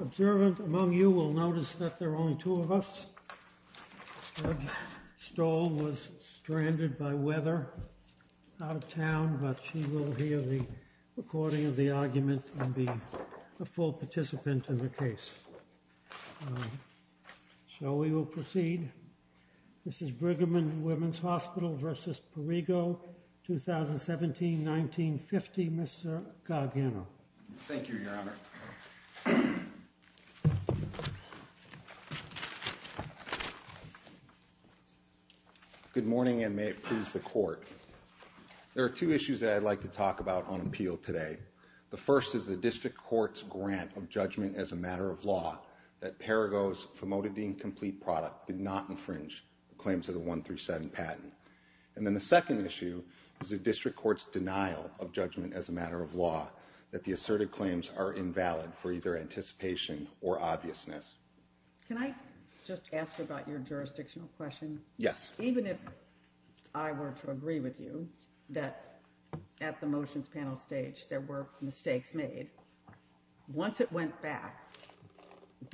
Observant among you will notice that there are only two of us. Judge Stoll was stranded by weather, out of town, but she will hear the recording of the argument and be a full participant in the case. So we will proceed. This is Brigham and Women's Hospital v. Perrigo, 2017-1950. Mr. Gargano. Thank you, Your Honor. Good morning and may it please the Court. There are two issues that I'd like to talk about on appeal today. The first is the District Court's grant of judgment as a matter of law that Perrigo's famotidine complete product did not infringe the claims of the 137 patent. And then the second issue is the District Court's denial of judgment as a matter of law that the asserted claims are invalid for either anticipation or obviousness. Can I just ask about your jurisdictional question? Yes. Even if I were to agree with you that at the motions panel stage there were mistakes made, once it went back,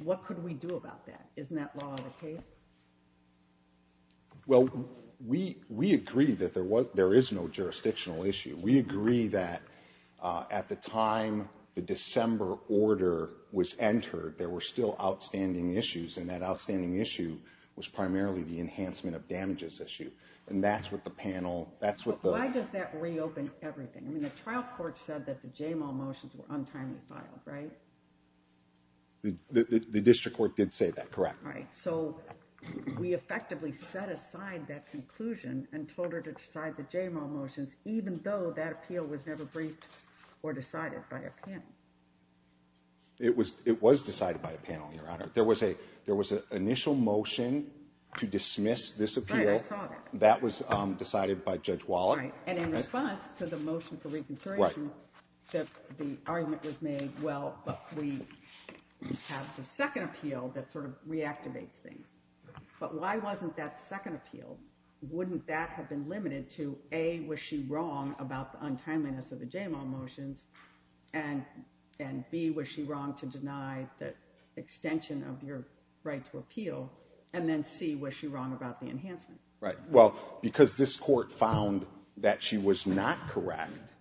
what could we do about that? Isn't that law of the case? Well, we agree that there is no jurisdictional issue. We agree that at the time the December order was entered there were still outstanding issues and that outstanding issue was primarily the enhancement of damages issue. Why does that reopen everything? I mean, the trial court said that the motions were untimely filed, right? The District Court did say that, correct? Right. So we effectively set aside that conclusion and told her to decide the motions, even though that appeal was never briefed or decided by a panel. It was it was decided by a panel, Your Honor. There was a there was an initial motion to dismiss this appeal that was decided by Judge Wallach. And in response to the motion for reconsideration, the argument was made, well, we have the second appeal that sort of reactivates things. But why wasn't that second appeal? Wouldn't that have been limited to A, was she wrong about the untimeliness of the Jamal motions? And B, was she wrong to deny the extension of your right to appeal? And then C, was she wrong about the enhancement? Right. Well, because this court found that she was not correct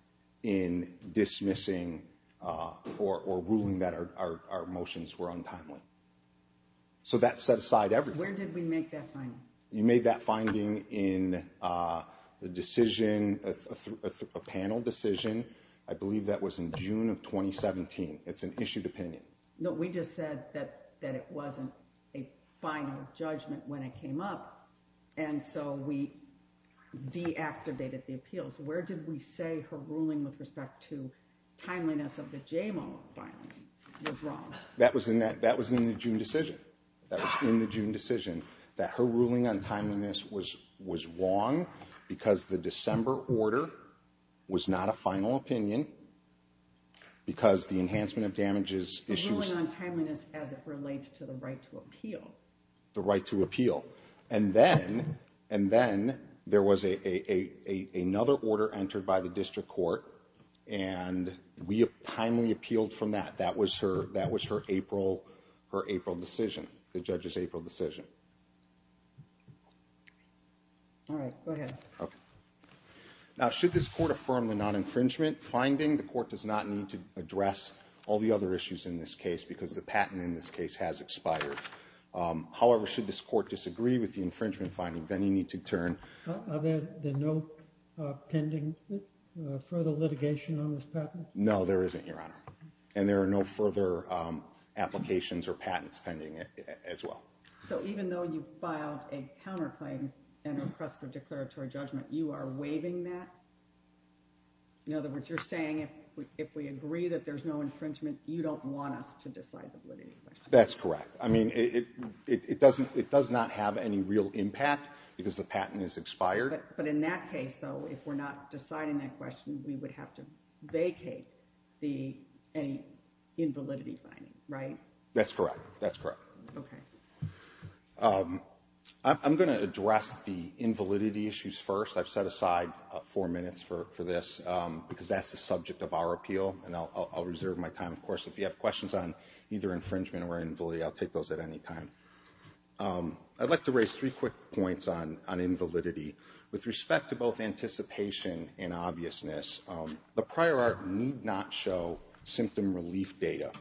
in dismissing or ruling that our motions were untimely. So that set aside everything. Where did we make that finding? You made that finding in the decision, a panel decision. I believe that was in June of 2017. It's an issued opinion. No, we just said that that it wasn't a final judgment when it came up. And so we deactivated the appeals. Where did we say her ruling with respect to timeliness of the Jamal? That was in that that was in the June decision. That was in the June decision that her ruling on timeliness was was wrong because the December order was not a final opinion. Because the enhancement of damages issues on timeliness as it relates to the right to appeal, the right to appeal. And then and then there was a another order entered by the district court. And we have timely appealed from that. That was her. That was her April, her April decision. The judge's April decision. All right. Now, should this court affirm the non-infringement finding? The court does not need to address all the other issues in this case because the patent in this case has expired. However, should this court disagree with the infringement finding, then you need to turn. Are there no pending further litigation on this patent? No, there isn't, Your Honor. And there are no further applications or patents pending as well. So even though you filed a counterclaim and a press for declaratory judgment, you are waiving that. In other words, you're saying if we if we agree that there's no infringement, you don't want us to decide the validity. That's correct. I mean, it it doesn't it does not have any real impact because the patent is expired. But in that case, though, if we're not deciding that question, we would have to vacate the any invalidity finding. Right. That's correct. That's correct. Okay. I'm going to address the invalidity issues first. I've set aside four minutes for this because that's the subject of our appeal. And I'll reserve my time. Of course, if you have questions on either infringement or invalidity, I'll take those at any time. I'd like to raise three quick points on on invalidity with respect to both anticipation and obviousness. The prior art need not show symptom relief data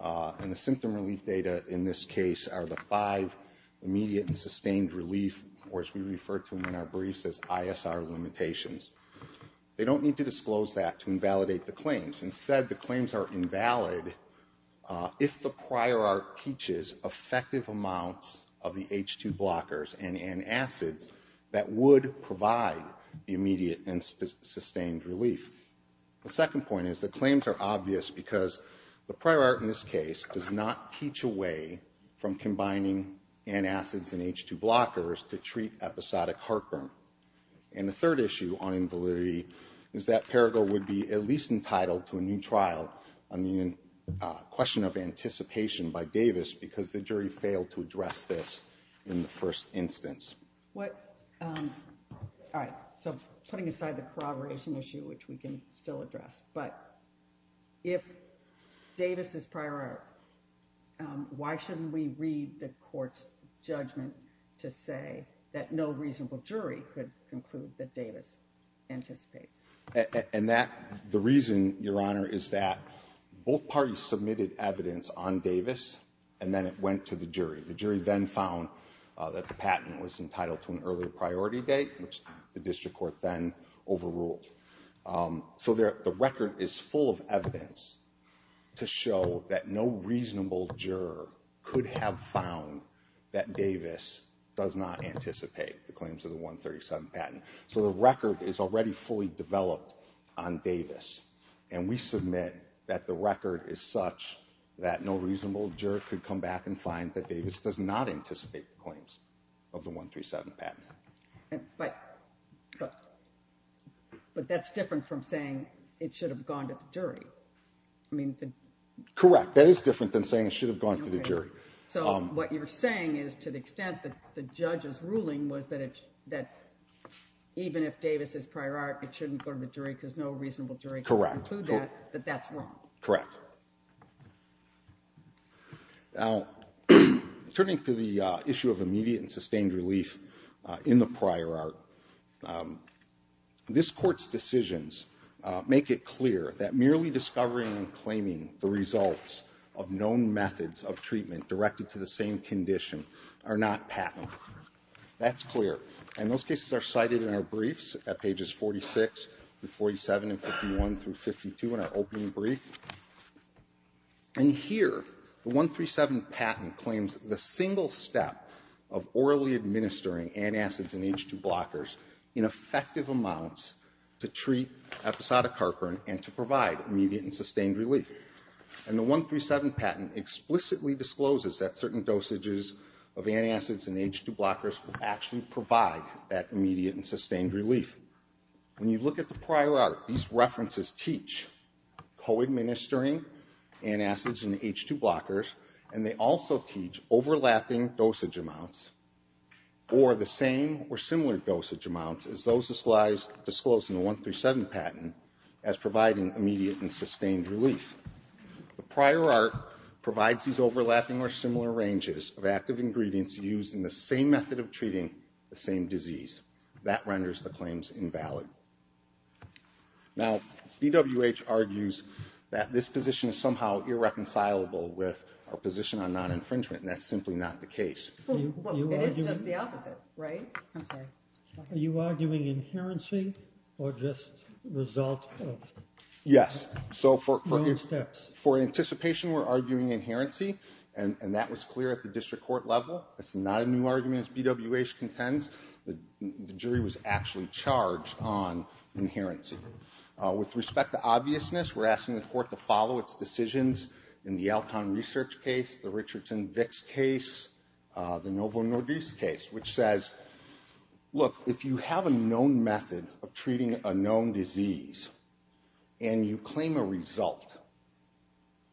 and the symptom relief data in this case are the five immediate and sustained relief, which we refer to in our briefs as ISR limitations. They don't need to disclose that to invalidate the claims. Instead, the claims are invalid if the prior art teaches effective amounts of the H2 blockers and acids that would provide the immediate and sustained relief. The second point is the claims are obvious because the prior art in this case does not teach away from combining antacids and H2 blockers to treat episodic heartburn. And the third issue on invalidity is that Paragore would be at least entitled to a new trial on the question of anticipation by Davis because the jury failed to address this in the first instance. All right, so putting aside the corroboration issue, which we can still address, but if Davis is prior art, why shouldn't we read the court's judgment to say that no reasonable jury could conclude that Davis anticipates? And the reason, Your Honor, is that both parties submitted evidence on Davis and then it went to the jury. The jury then found that the patent was entitled to an earlier priority date, which the district court then overruled. So the record is full of evidence to show that no reasonable juror could have found that Davis does not anticipate the claims of the 137 patent. So the record is already fully developed on Davis, and we submit that the record is such that no reasonable juror could come back and find that Davis does not anticipate claims of the 137 patent. But that's different from saying it should have gone to the jury. I mean, correct. That is different than saying it should have gone to the jury. So what you're saying is to the extent that the judge's ruling was that even if Davis is prior art, it shouldn't go to the jury because no reasonable jury could conclude that, that that's wrong. Correct. Now, turning to the issue of immediate and sustained relief in the prior art, this court's decisions make it clear that merely discovering and claiming the results of known methods of treatment directed to the same condition are not patentable. That's clear. And those cases are cited in our briefs at pages 46-47 and 51-52 in our opening brief. And here, the 137 patent claims the single step of orally administering antacids and H2 blockers in effective amounts to treat episodic heartburn and to provide immediate and sustained relief. And the 137 patent explicitly discloses that certain dosages of antacids and H2 blockers will actually provide that immediate and sustained relief. When you look at the prior art, these references teach co-administering antacids and H2 blockers, and they also teach overlapping dosage amounts or the same or similar dosage amounts as those disclosed in the 137 patent as providing immediate and sustained relief. The prior art provides these overlapping or similar ranges of active ingredients used in the same method of treating the same disease. That renders the claims invalid. Now, BWH argues that this position is somehow irreconcilable with our position on non-infringement, and that's simply not the case. It is just the opposite, right? I'm sorry. Are you arguing inherency or just result of? Yes. No steps. For anticipation, we're arguing inherency, and that was clear at the district court level. It's not a new argument as BWH contends. The jury was actually charged on inherency. With respect to obviousness, we're asking the court to follow its decisions in the Alcon Research case, the Richardson-Vicks case, the Novo Nordisk case, which says, look, if you have a known method of treating a known disease, and you claim a result,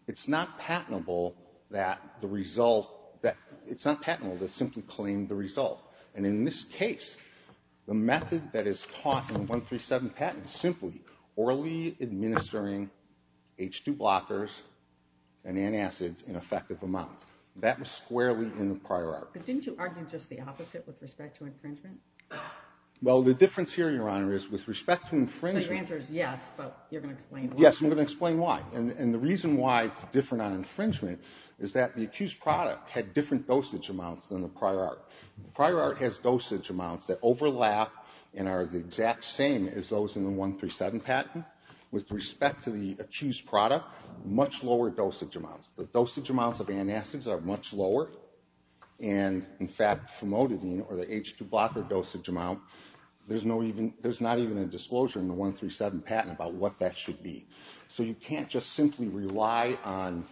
it's not patentable that the result, it's not patentable to simply claim the result. And in this case, the method that is taught in the 137 patent is simply orally administering H2 blockers and antacids in effective amounts. That was squarely in the prior art. But didn't you argue just the opposite with respect to infringement? Well, the difference here, Your Honor, is with respect to infringement... So your answer is yes, but you're going to explain why. And the reason why it's different on infringement is that the accused product had different dosage amounts than the prior art. The prior art has dosage amounts that overlap and are the exact same as those in the 137 patent. With respect to the accused product, much lower dosage amounts. The dosage amounts of antacids are much lower, and in fact, famotidine, or the H2 blocker dosage amount, there's not even a disclosure in the 137 patent about what that should be. So you can't just simply rely on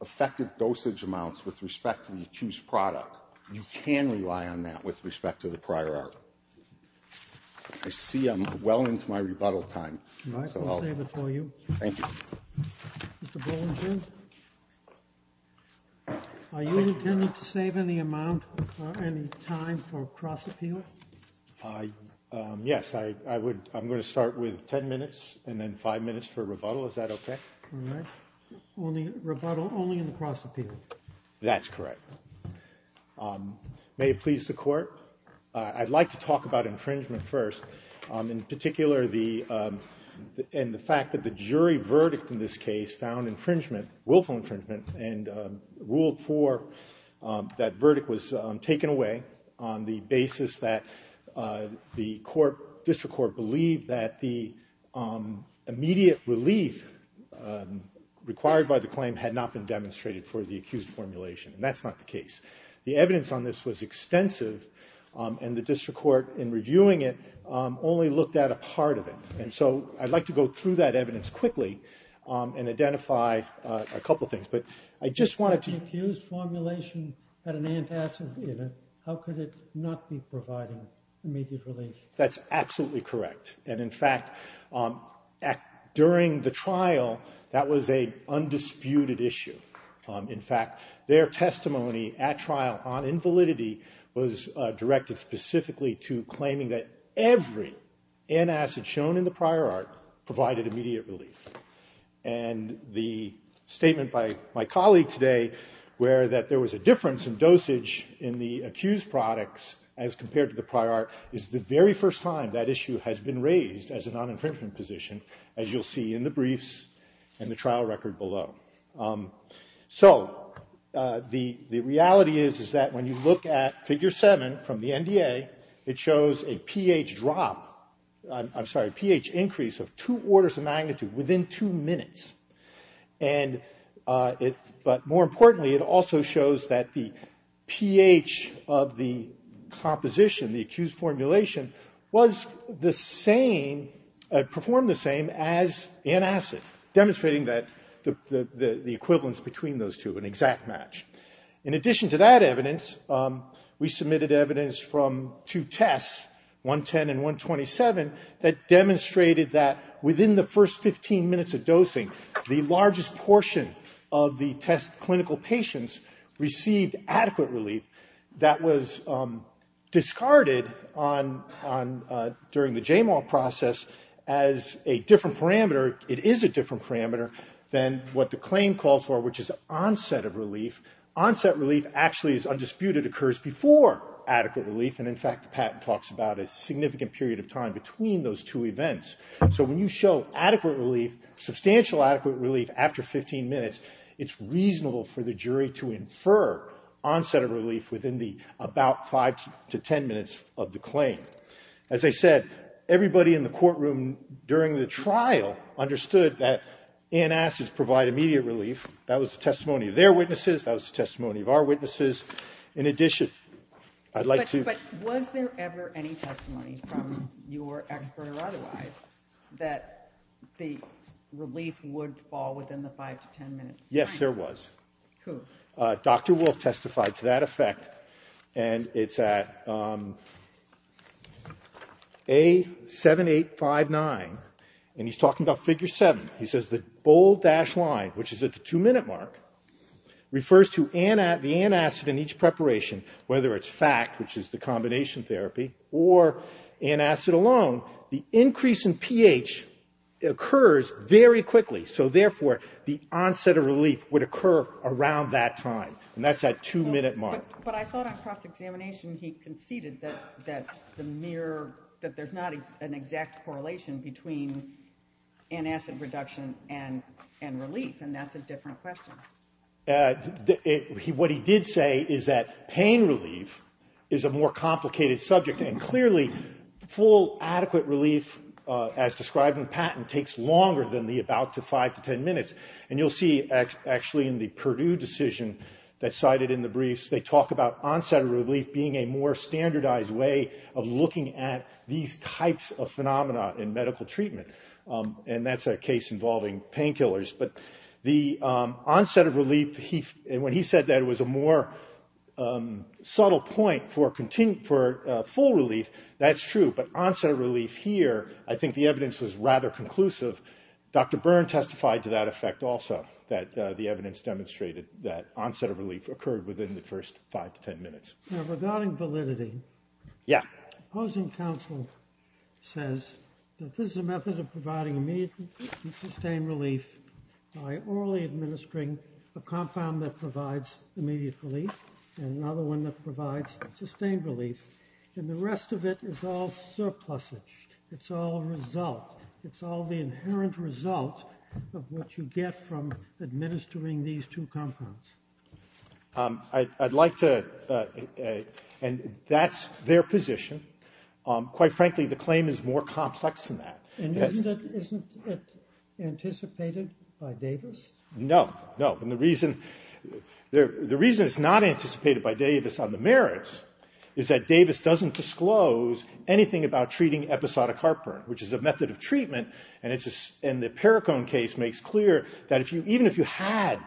effective dosage amounts with respect to the accused product. You can rely on that with respect to the prior art. I see I'm well into my rebuttal time. All right. I'll save it for you. Thank you. Mr. Bollinger, are you intending to save any amount, any time for cross-appeal? Yes, I'm going to start with 10 minutes and then 5 minutes for rebuttal. Is that okay? All right. Rebuttal only in the cross-appeal. That's correct. May it please the Court. I'd like to talk about infringement first. In particular, the fact that the jury verdict in this case found infringement, willful infringement, and ruled for that verdict was taken away on the basis that the District Court believed that the immediate relief required by the claim had not been demonstrated for the accused formulation. And that's not the case. The evidence on this was extensive, and the District Court, in reviewing it, only looked at a part of it. And so I'd like to go through that evidence quickly and identify a couple things. But I just wanted to… The accused formulation had an antacid in it. How could it not be providing immediate relief? That's absolutely correct. And, in fact, during the trial, that was an undisputed issue. In fact, their testimony at trial on invalidity was directed specifically to claiming that every antacid shown in the prior art provided immediate relief. And the statement by my colleague today, where that there was a difference in dosage in the accused products as compared to the prior art, is the very first time that issue has been raised as a non-infringement position, as you'll see in the briefs and the trial record below. So the reality is, is that when you look at Figure 7 from the NDA, it shows a pH drop… I'm sorry, a pH increase of two orders of magnitude within two minutes. And it… But more importantly, it also shows that the pH of the composition, the accused formulation, was the same, performed the same as antacid, demonstrating that the equivalence between those two, an exact match. In addition to that evidence, we submitted evidence from two tests, 110 and 127, that demonstrated that within the first 15 minutes of dosing, the largest portion of the test clinical patients received adequate relief. That was discarded during the JMAW process as a different parameter. It is a different parameter than what the claim calls for, which is onset of relief. Onset relief actually is undisputed, occurs before adequate relief. And in fact, the patent talks about a significant period of time between those two events. So when you show adequate relief, substantial adequate relief after 15 minutes, it's reasonable for the jury to infer onset of relief within the about 5 to 10 minutes of the claim. As I said, everybody in the courtroom during the trial understood that antacids provide immediate relief. That was the testimony of their witnesses. That was the testimony of our witnesses. In addition, I'd like to… that the relief would fall within the 5 to 10 minutes. Yes, there was. Who? Dr. Wolf testified to that effect, and it's at A7859, and he's talking about Figure 7. He says the bold dashed line, which is at the 2-minute mark, refers to the antacid in each preparation, whether it's FACT, which is the combination therapy, or antacid alone. The increase in pH occurs very quickly, so therefore the onset of relief would occur around that time, and that's at 2-minute mark. But I thought on cross-examination he conceded that the mere… that there's not an exact correlation between antacid reduction and relief, and that's a different question. What he did say is that pain relief is a more complicated subject, and clearly full, adequate relief, as described in the patent, takes longer than the about 5 to 10 minutes. And you'll see, actually, in the Purdue decision that's cited in the briefs, they talk about onset of relief being a more standardized way of looking at these types of phenomena in medical treatment. And that's a case involving painkillers. But the onset of relief, when he said that it was a more subtle point for full relief, that's true. But onset of relief here, I think the evidence was rather conclusive. Dr. Byrne testified to that effect also, that the evidence demonstrated that onset of relief occurred within the first 5 to 10 minutes. Now, regarding validity. Yeah. Opposing counsel says that this is a method of providing immediate and sustained relief by orally administering a compound that provides immediate relief and another one that provides sustained relief. And the rest of it is all surplusage. It's all a result. It's all the inherent result of what you get from administering these two compounds. I'd like to – and that's their position. Quite frankly, the claim is more complex than that. And isn't it anticipated by Davis? No. No. And the reason it's not anticipated by Davis on the merits is that Davis doesn't disclose anything about treating episodic heartburn, which is a method of treatment. And the Perricone case makes clear that even if you had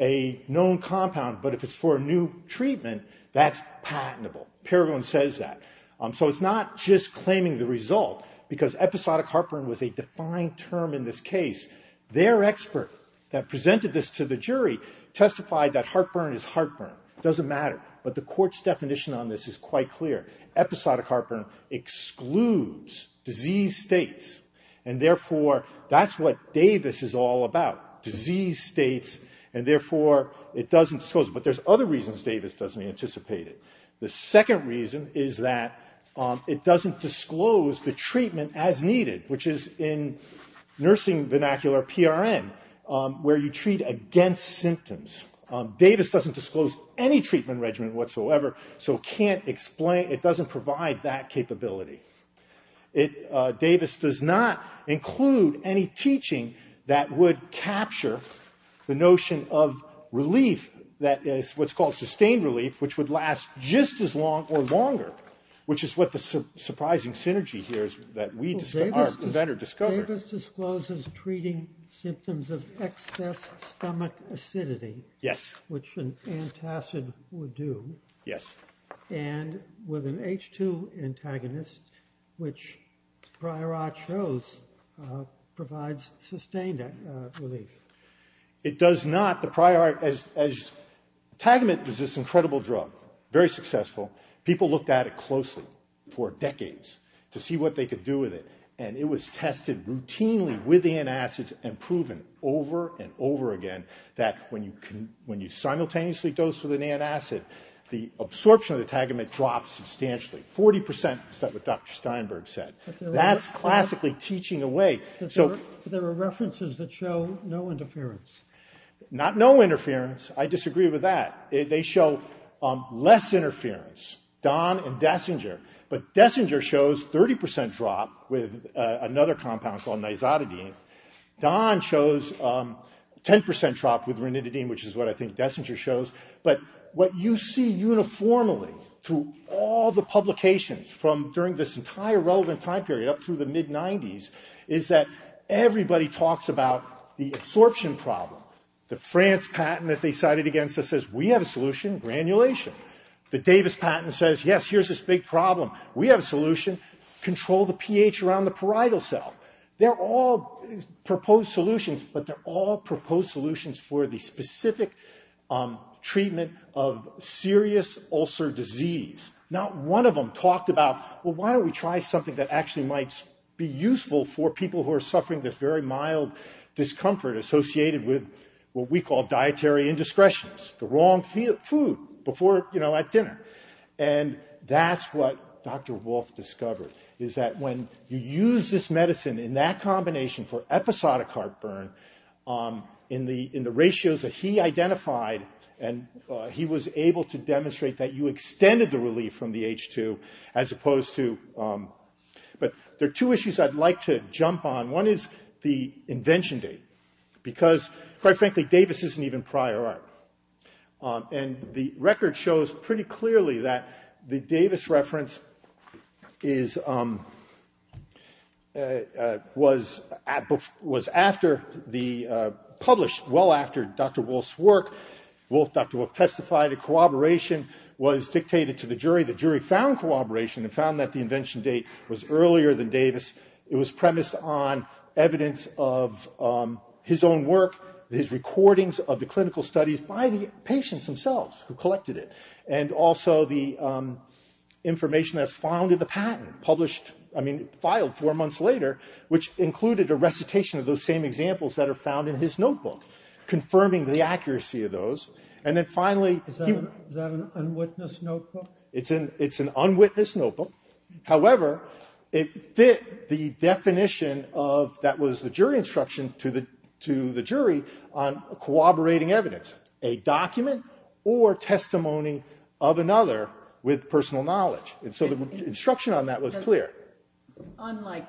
a known compound, but if it's for a new treatment, that's patentable. Perricone says that. So it's not just claiming the result, because episodic heartburn was a defined term in this case. Their expert that presented this to the jury testified that heartburn is heartburn. It doesn't matter. But the court's definition on this is quite clear. Episodic heartburn excludes disease states, and therefore that's what Davis is all about, disease states, and therefore it doesn't disclose it. But there's other reasons Davis doesn't anticipate it. The second reason is that it doesn't disclose the treatment as needed, which is in nursing vernacular PRN, where you treat against symptoms. Davis doesn't disclose any treatment regimen whatsoever, so it can't explain, it doesn't provide that capability. Davis does not include any teaching that would capture the notion of relief, what's called sustained relief, which would last just as long or longer, which is what the surprising synergy here is that our inventor discovered. So Davis discloses treating symptoms of excess stomach acidity. Yes. Which an antacid would do. Yes. And with an H2 antagonist, which prior art shows provides sustained relief. It does not. The prior art, as tagamate was this incredible drug, very successful, people looked at it closely for decades to see what they could do with it. And it was tested routinely with antacids and proven over and over again that when you simultaneously dose with an antacid, the absorption of the tagamate drops substantially. 40% is what Dr. Steinberg said. That's classically teaching away. There are references that show no interference. Not no interference. I disagree with that. They show less interference. Don and Dessinger. But Dessinger shows 30% drop with another compound called nizotidine. Don shows 10% drop with rinitidine, which is what I think Dessinger shows. But what you see uniformly through all the publications from during this entire relevant time period up through the mid-'90s is that everybody talks about the absorption problem. The France patent that they cited against us says we have a solution, granulation. The Davis patent says, yes, here's this big problem. We have a solution. Control the pH around the parietal cell. They're all proposed solutions, but they're all proposed solutions for the specific treatment of serious ulcer disease. Not one of them talked about, well, why don't we try something that actually might be useful for people who are suffering this very mild discomfort associated with what we call dietary indiscretions. The wrong food before, you know, at dinner. And that's what Dr. Wolff discovered, is that when you use this medicine in that combination for episodic heartburn in the ratios that he identified, and he was able to demonstrate that you extended the relief from the H2 as opposed to ‑‑ but there are two issues I'd like to jump on. One is the invention date, because, quite frankly, Davis isn't even prior art. And the record shows pretty clearly that the Davis reference is ‑‑ was after the ‑‑ published well after Dr. Wolff's work. Dr. Wolff testified that corroboration was dictated to the jury. The jury found corroboration and found that the invention date was earlier than Davis. It was premised on evidence of his own work, his recordings of the clinical studies by the patients themselves who collected it. And also the information that's found in the patent, published ‑‑ I mean, filed four months later, which included a recitation of those same examples that are found in his notebook, confirming the accuracy of those. And then finally ‑‑ Is that an unwitnessed notebook? It's an unwitnessed notebook. However, it fit the definition of ‑‑ that was the jury instruction to the jury on corroborating evidence, a document or testimony of another with personal knowledge. And so the instruction on that was clear. Unlike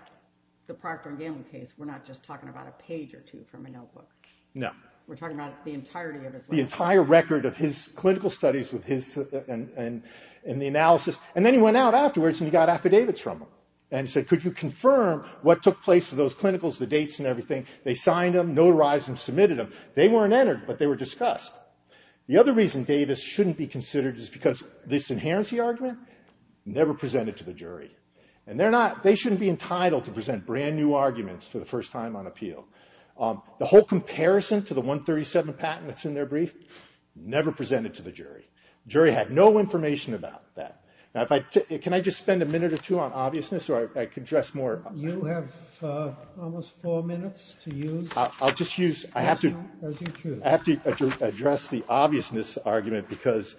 the Proctor and Gamble case, we're not just talking about a page or two from a notebook. No. We're talking about the entirety of his work. The entire record of his clinical studies with his ‑‑ and the analysis. And then he went out afterwards and he got affidavits from them and said, could you confirm what took place with those clinicals, the dates and everything? They signed them, notarized them, submitted them. They weren't entered, but they were discussed. The other reason Davis shouldn't be considered is because this inherency argument never presented to the jury. And they're not ‑‑ they shouldn't be entitled to present brand new arguments for the first time on appeal. The whole comparison to the 137 patent that's in their brief never presented to the jury. The jury had no information about that. Now, if I ‑‑ can I just spend a minute or two on obviousness so I can address more? You have almost four minutes to use. I'll just use ‑‑ I have to address the obviousness argument because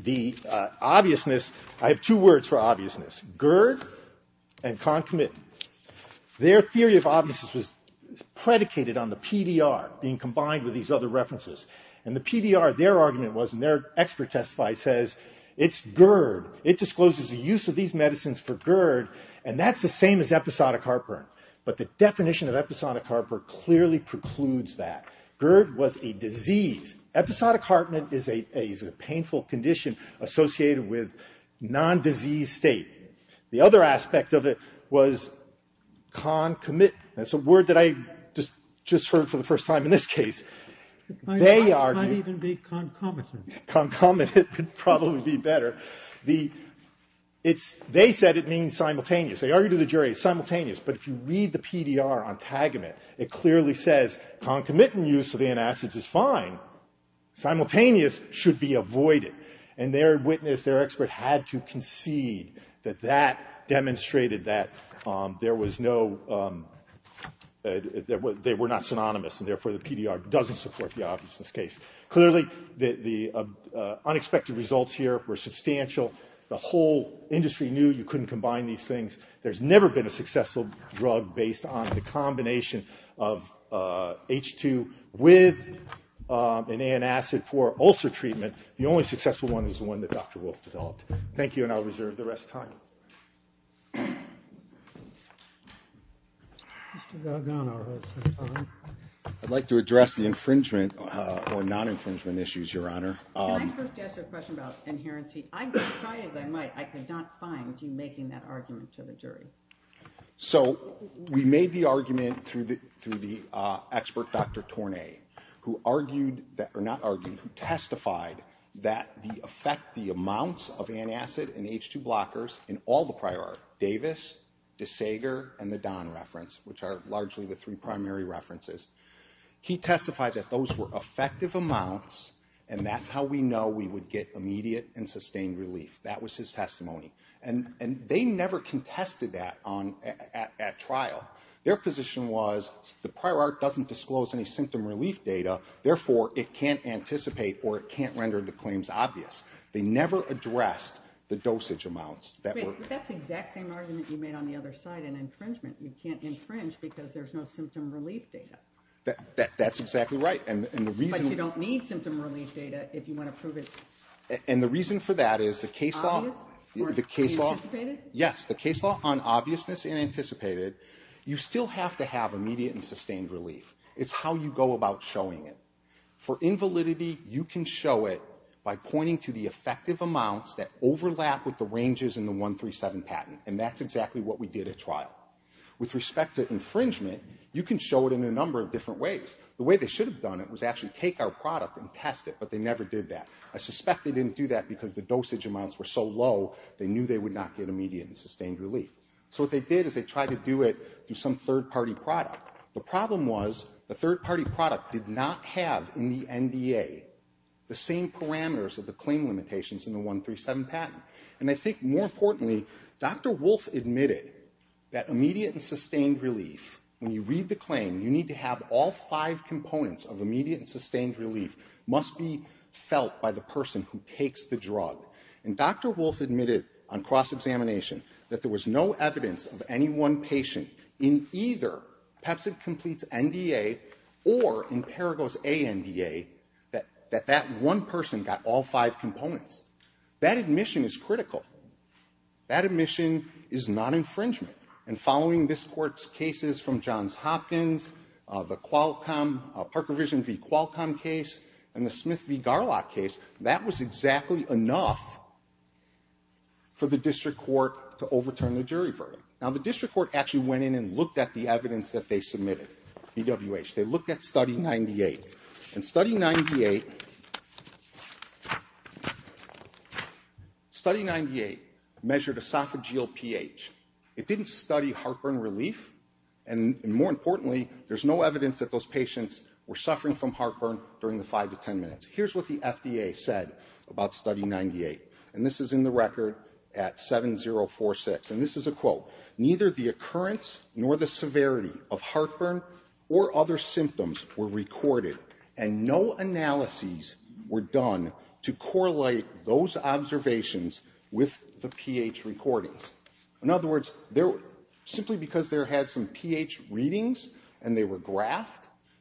the obviousness, I have two words for obviousness. Gerd and Concomitant, their theory of obviousness was predicated on the PDR being combined with these other references. And the PDR, their argument was, and their expert testifies says, it's GERD. It discloses the use of these medicines for GERD, and that's the same as episodic heartburn. But the definition of episodic heartburn clearly precludes that. GERD was a disease. Episodic heartburn is a painful condition associated with nondisease state. The other aspect of it was concomitant. That's a word that I just heard for the first time in this case. They argue ‑‑ It might even be concomitant. Concomitant would probably be better. It's ‑‑ they said it means simultaneous. They argued to the jury, simultaneous. But if you read the PDR on Tagamet, it clearly says concomitant use of antacids is fine. Simultaneous should be avoided. And their witness, their expert, had to concede that that demonstrated that there was no ‑‑ they were not synonymous, and therefore the PDR doesn't support the obviousness case. Clearly, the unexpected results here were substantial. The whole industry knew you couldn't combine these things. There's never been a successful drug based on the combination of H2 with an antacid for ulcer treatment. The only successful one is the one that Dr. Wolf developed. Thank you, and I'll reserve the rest of the time. Mr. Galgano has the time. I'd like to address the infringement or non‑infringement issues, Your Honor. Can I first ask a question about inherency? I tried as I might, I could not find you making that argument to the jury. So, we made the argument through the expert, Dr. Tornay, who argued, or not argued, who testified that the effect, the amounts of antacid and H2 blockers in all the prior art, Davis, DeSager, and the Don reference, which are largely the three primary references, he testified that those were effective amounts, and that's how we know we would get immediate and sustained relief. That was his testimony. And they never contested that at trial. Their position was the prior art doesn't disclose any symptom relief data, therefore, it can't anticipate or it can't render the claims obvious. They never addressed the dosage amounts. That's the exact same argument you made on the other side in infringement. You can't infringe because there's no symptom relief data. That's exactly right. But you don't need symptom relief data if you want to prove it. And the reason for that is the case law. Obvious? Yes, the case law on obviousness and anticipated. You still have to have immediate and sustained relief. It's how you go about showing it. For invalidity, you can show it by pointing to the effective amounts that overlap with the ranges in the 137 patent, and that's exactly what we did at trial. With respect to infringement, you can show it in a number of different ways. The way they should have done it was actually take our product and test it, but they never did that. I suspect they didn't do that because the dosage amounts were so low, they knew they would not get immediate and sustained relief. So what they did is they tried to do it through some third-party product. The problem was the third-party product did not have in the NDA the same parameters of the claim limitations in the 137 patent. And I think, more importantly, Dr. Wolff admitted that immediate and sustained relief, when you read the claim, you need to have all five components of immediate and sustained relief must be felt by the person who takes the drug. And Dr. Wolff admitted on cross-examination that there was no evidence of any one patient in either PEPCID-Complete's NDA or in Paragos A NDA that that one person got all five components. That admission is critical. That admission is not infringement. And following this Court's cases from Johns Hopkins, the Qualcomm, Parker Vision v. Qualcomm case, and the Smith v. Garlock case, that was exactly enough for the district court to overturn the jury verdict. Now, the district court actually went in and looked at the evidence that they submitted, BWH. They looked at Study 98. And Study 98 measured esophageal pH. It didn't study heartburn relief. And more importantly, there's no evidence that those patients were suffering from heartburn during the 5 to 10 minutes. Here's what the FDA said about Study 98. And this is in the record at 7046. And this is a quote. Neither the occurrence nor the severity of heartburn or other symptoms were recorded, and no analyses were done to correlate those observations with the pH recordings. In other words, simply because they had some pH readings and they were graphed,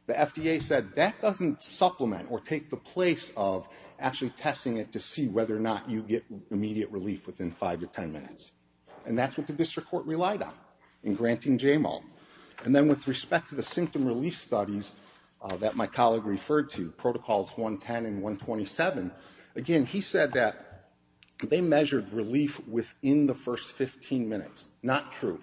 the FDA said that doesn't supplement or take the place of actually testing it to see whether or not you get immediate relief within 5 to 10 minutes. And that's what the district court relied on in granting JMAL. And then with respect to the symptom relief studies that my colleague referred to, Protocols 110 and 127, again, he said that they measured relief within the first 15 minutes. Not true.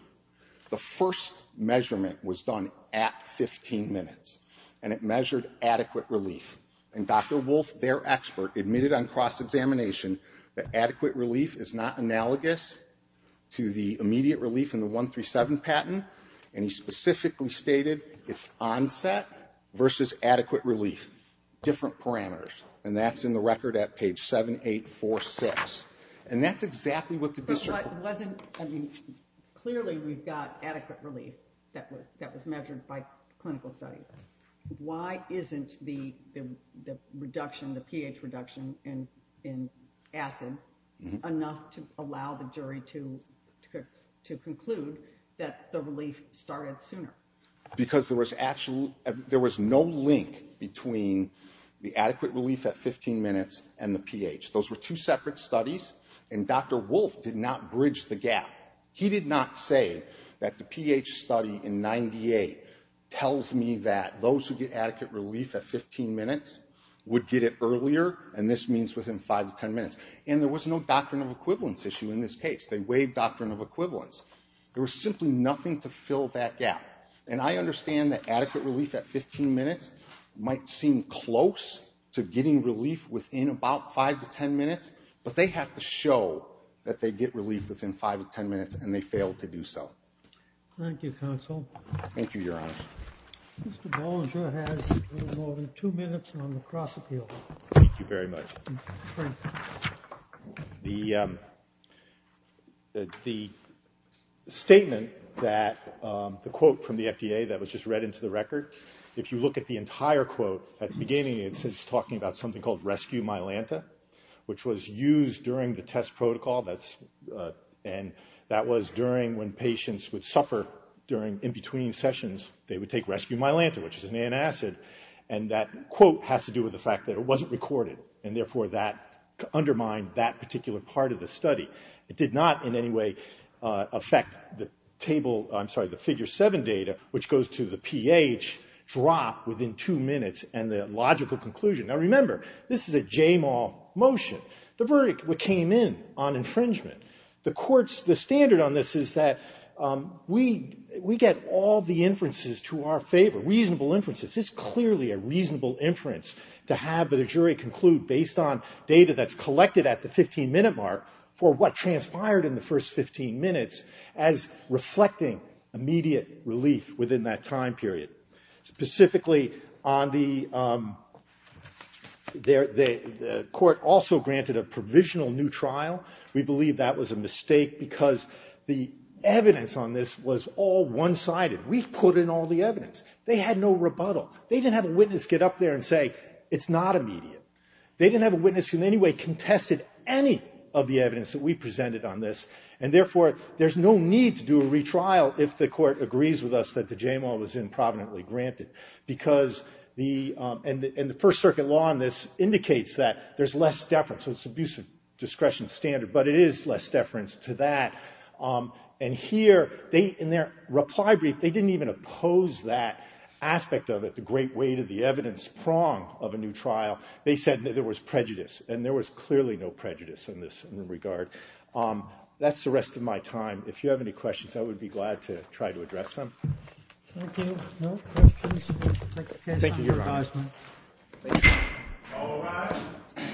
The first measurement was done at 15 minutes. And it measured adequate relief. And Dr. Wolf, their expert, admitted on cross-examination that adequate relief is not analogous to the immediate relief in the 137 patent. And he specifically stated it's onset versus adequate relief, different parameters. And that's in the record at page 7846. And that's exactly what the district court said. Clearly we've got adequate relief that was measured by clinical studies. Why isn't the pH reduction in acid enough to allow the jury to conclude that the relief started sooner? Because there was no link between the adequate relief at 15 minutes and the pH. Those were two separate studies. And Dr. Wolf did not bridge the gap. He did not say that the pH study in 98 tells me that those who get adequate relief at 15 minutes would get it earlier. And this means within 5 to 10 minutes. And there was no doctrine of equivalence issue in this case. They waived doctrine of equivalence. There was simply nothing to fill that gap. And I understand that adequate relief at 15 minutes might seem close to getting relief within about 5 to 10 minutes. But they have to show that they get relief within 5 to 10 minutes, and they failed to do so. Thank you, counsel. Thank you, Your Honor. Mr. Bolger has a little more than two minutes on the cross-appeal. Thank you very much. The statement that the quote from the FDA that was just read into the record, if you look at the entire quote, at the beginning it's talking about something called rescue myelanta, which was used during the test protocol. And that was during when patients would suffer during in-between sessions, they would take rescue myelanta, which is an antacid, and that quote has to do with the fact that it wasn't recorded, and therefore that undermined that particular part of the study. It did not in any way affect the figure 7 data, which goes to the pH drop within two minutes and the logical conclusion. Now, remember, this is a JMAW motion. The verdict came in on infringement. The standard on this is that we get all the inferences to our favor, reasonable inferences. It's clearly a reasonable inference to have the jury conclude based on data that's collected at the 15-minute mark for what transpired in the first 15 minutes as reflecting immediate relief within that time period. Specifically, the court also granted a provisional new trial. We believe that was a mistake because the evidence on this was all one-sided. We've put in all the evidence. They had no rebuttal. They didn't have a witness get up there and say, it's not immediate. They didn't have a witness who in any way contested any of the evidence that we presented on this, and therefore there's no need to do a retrial if the court agrees with us that the JMAW was improvidently granted, because the first circuit law on this indicates that there's less deference. It's an abusive discretion standard, but it is less deference to that. And here, in their reply brief, they didn't even oppose that aspect of it, the great weight of the evidence prong of a new trial. They said that there was prejudice, and there was clearly no prejudice in this regard. That's the rest of my time. If you have any questions, I would be glad to try to address them. Thank you. No questions? Thank you. Thank you, Your Honor. Thank you. All rise.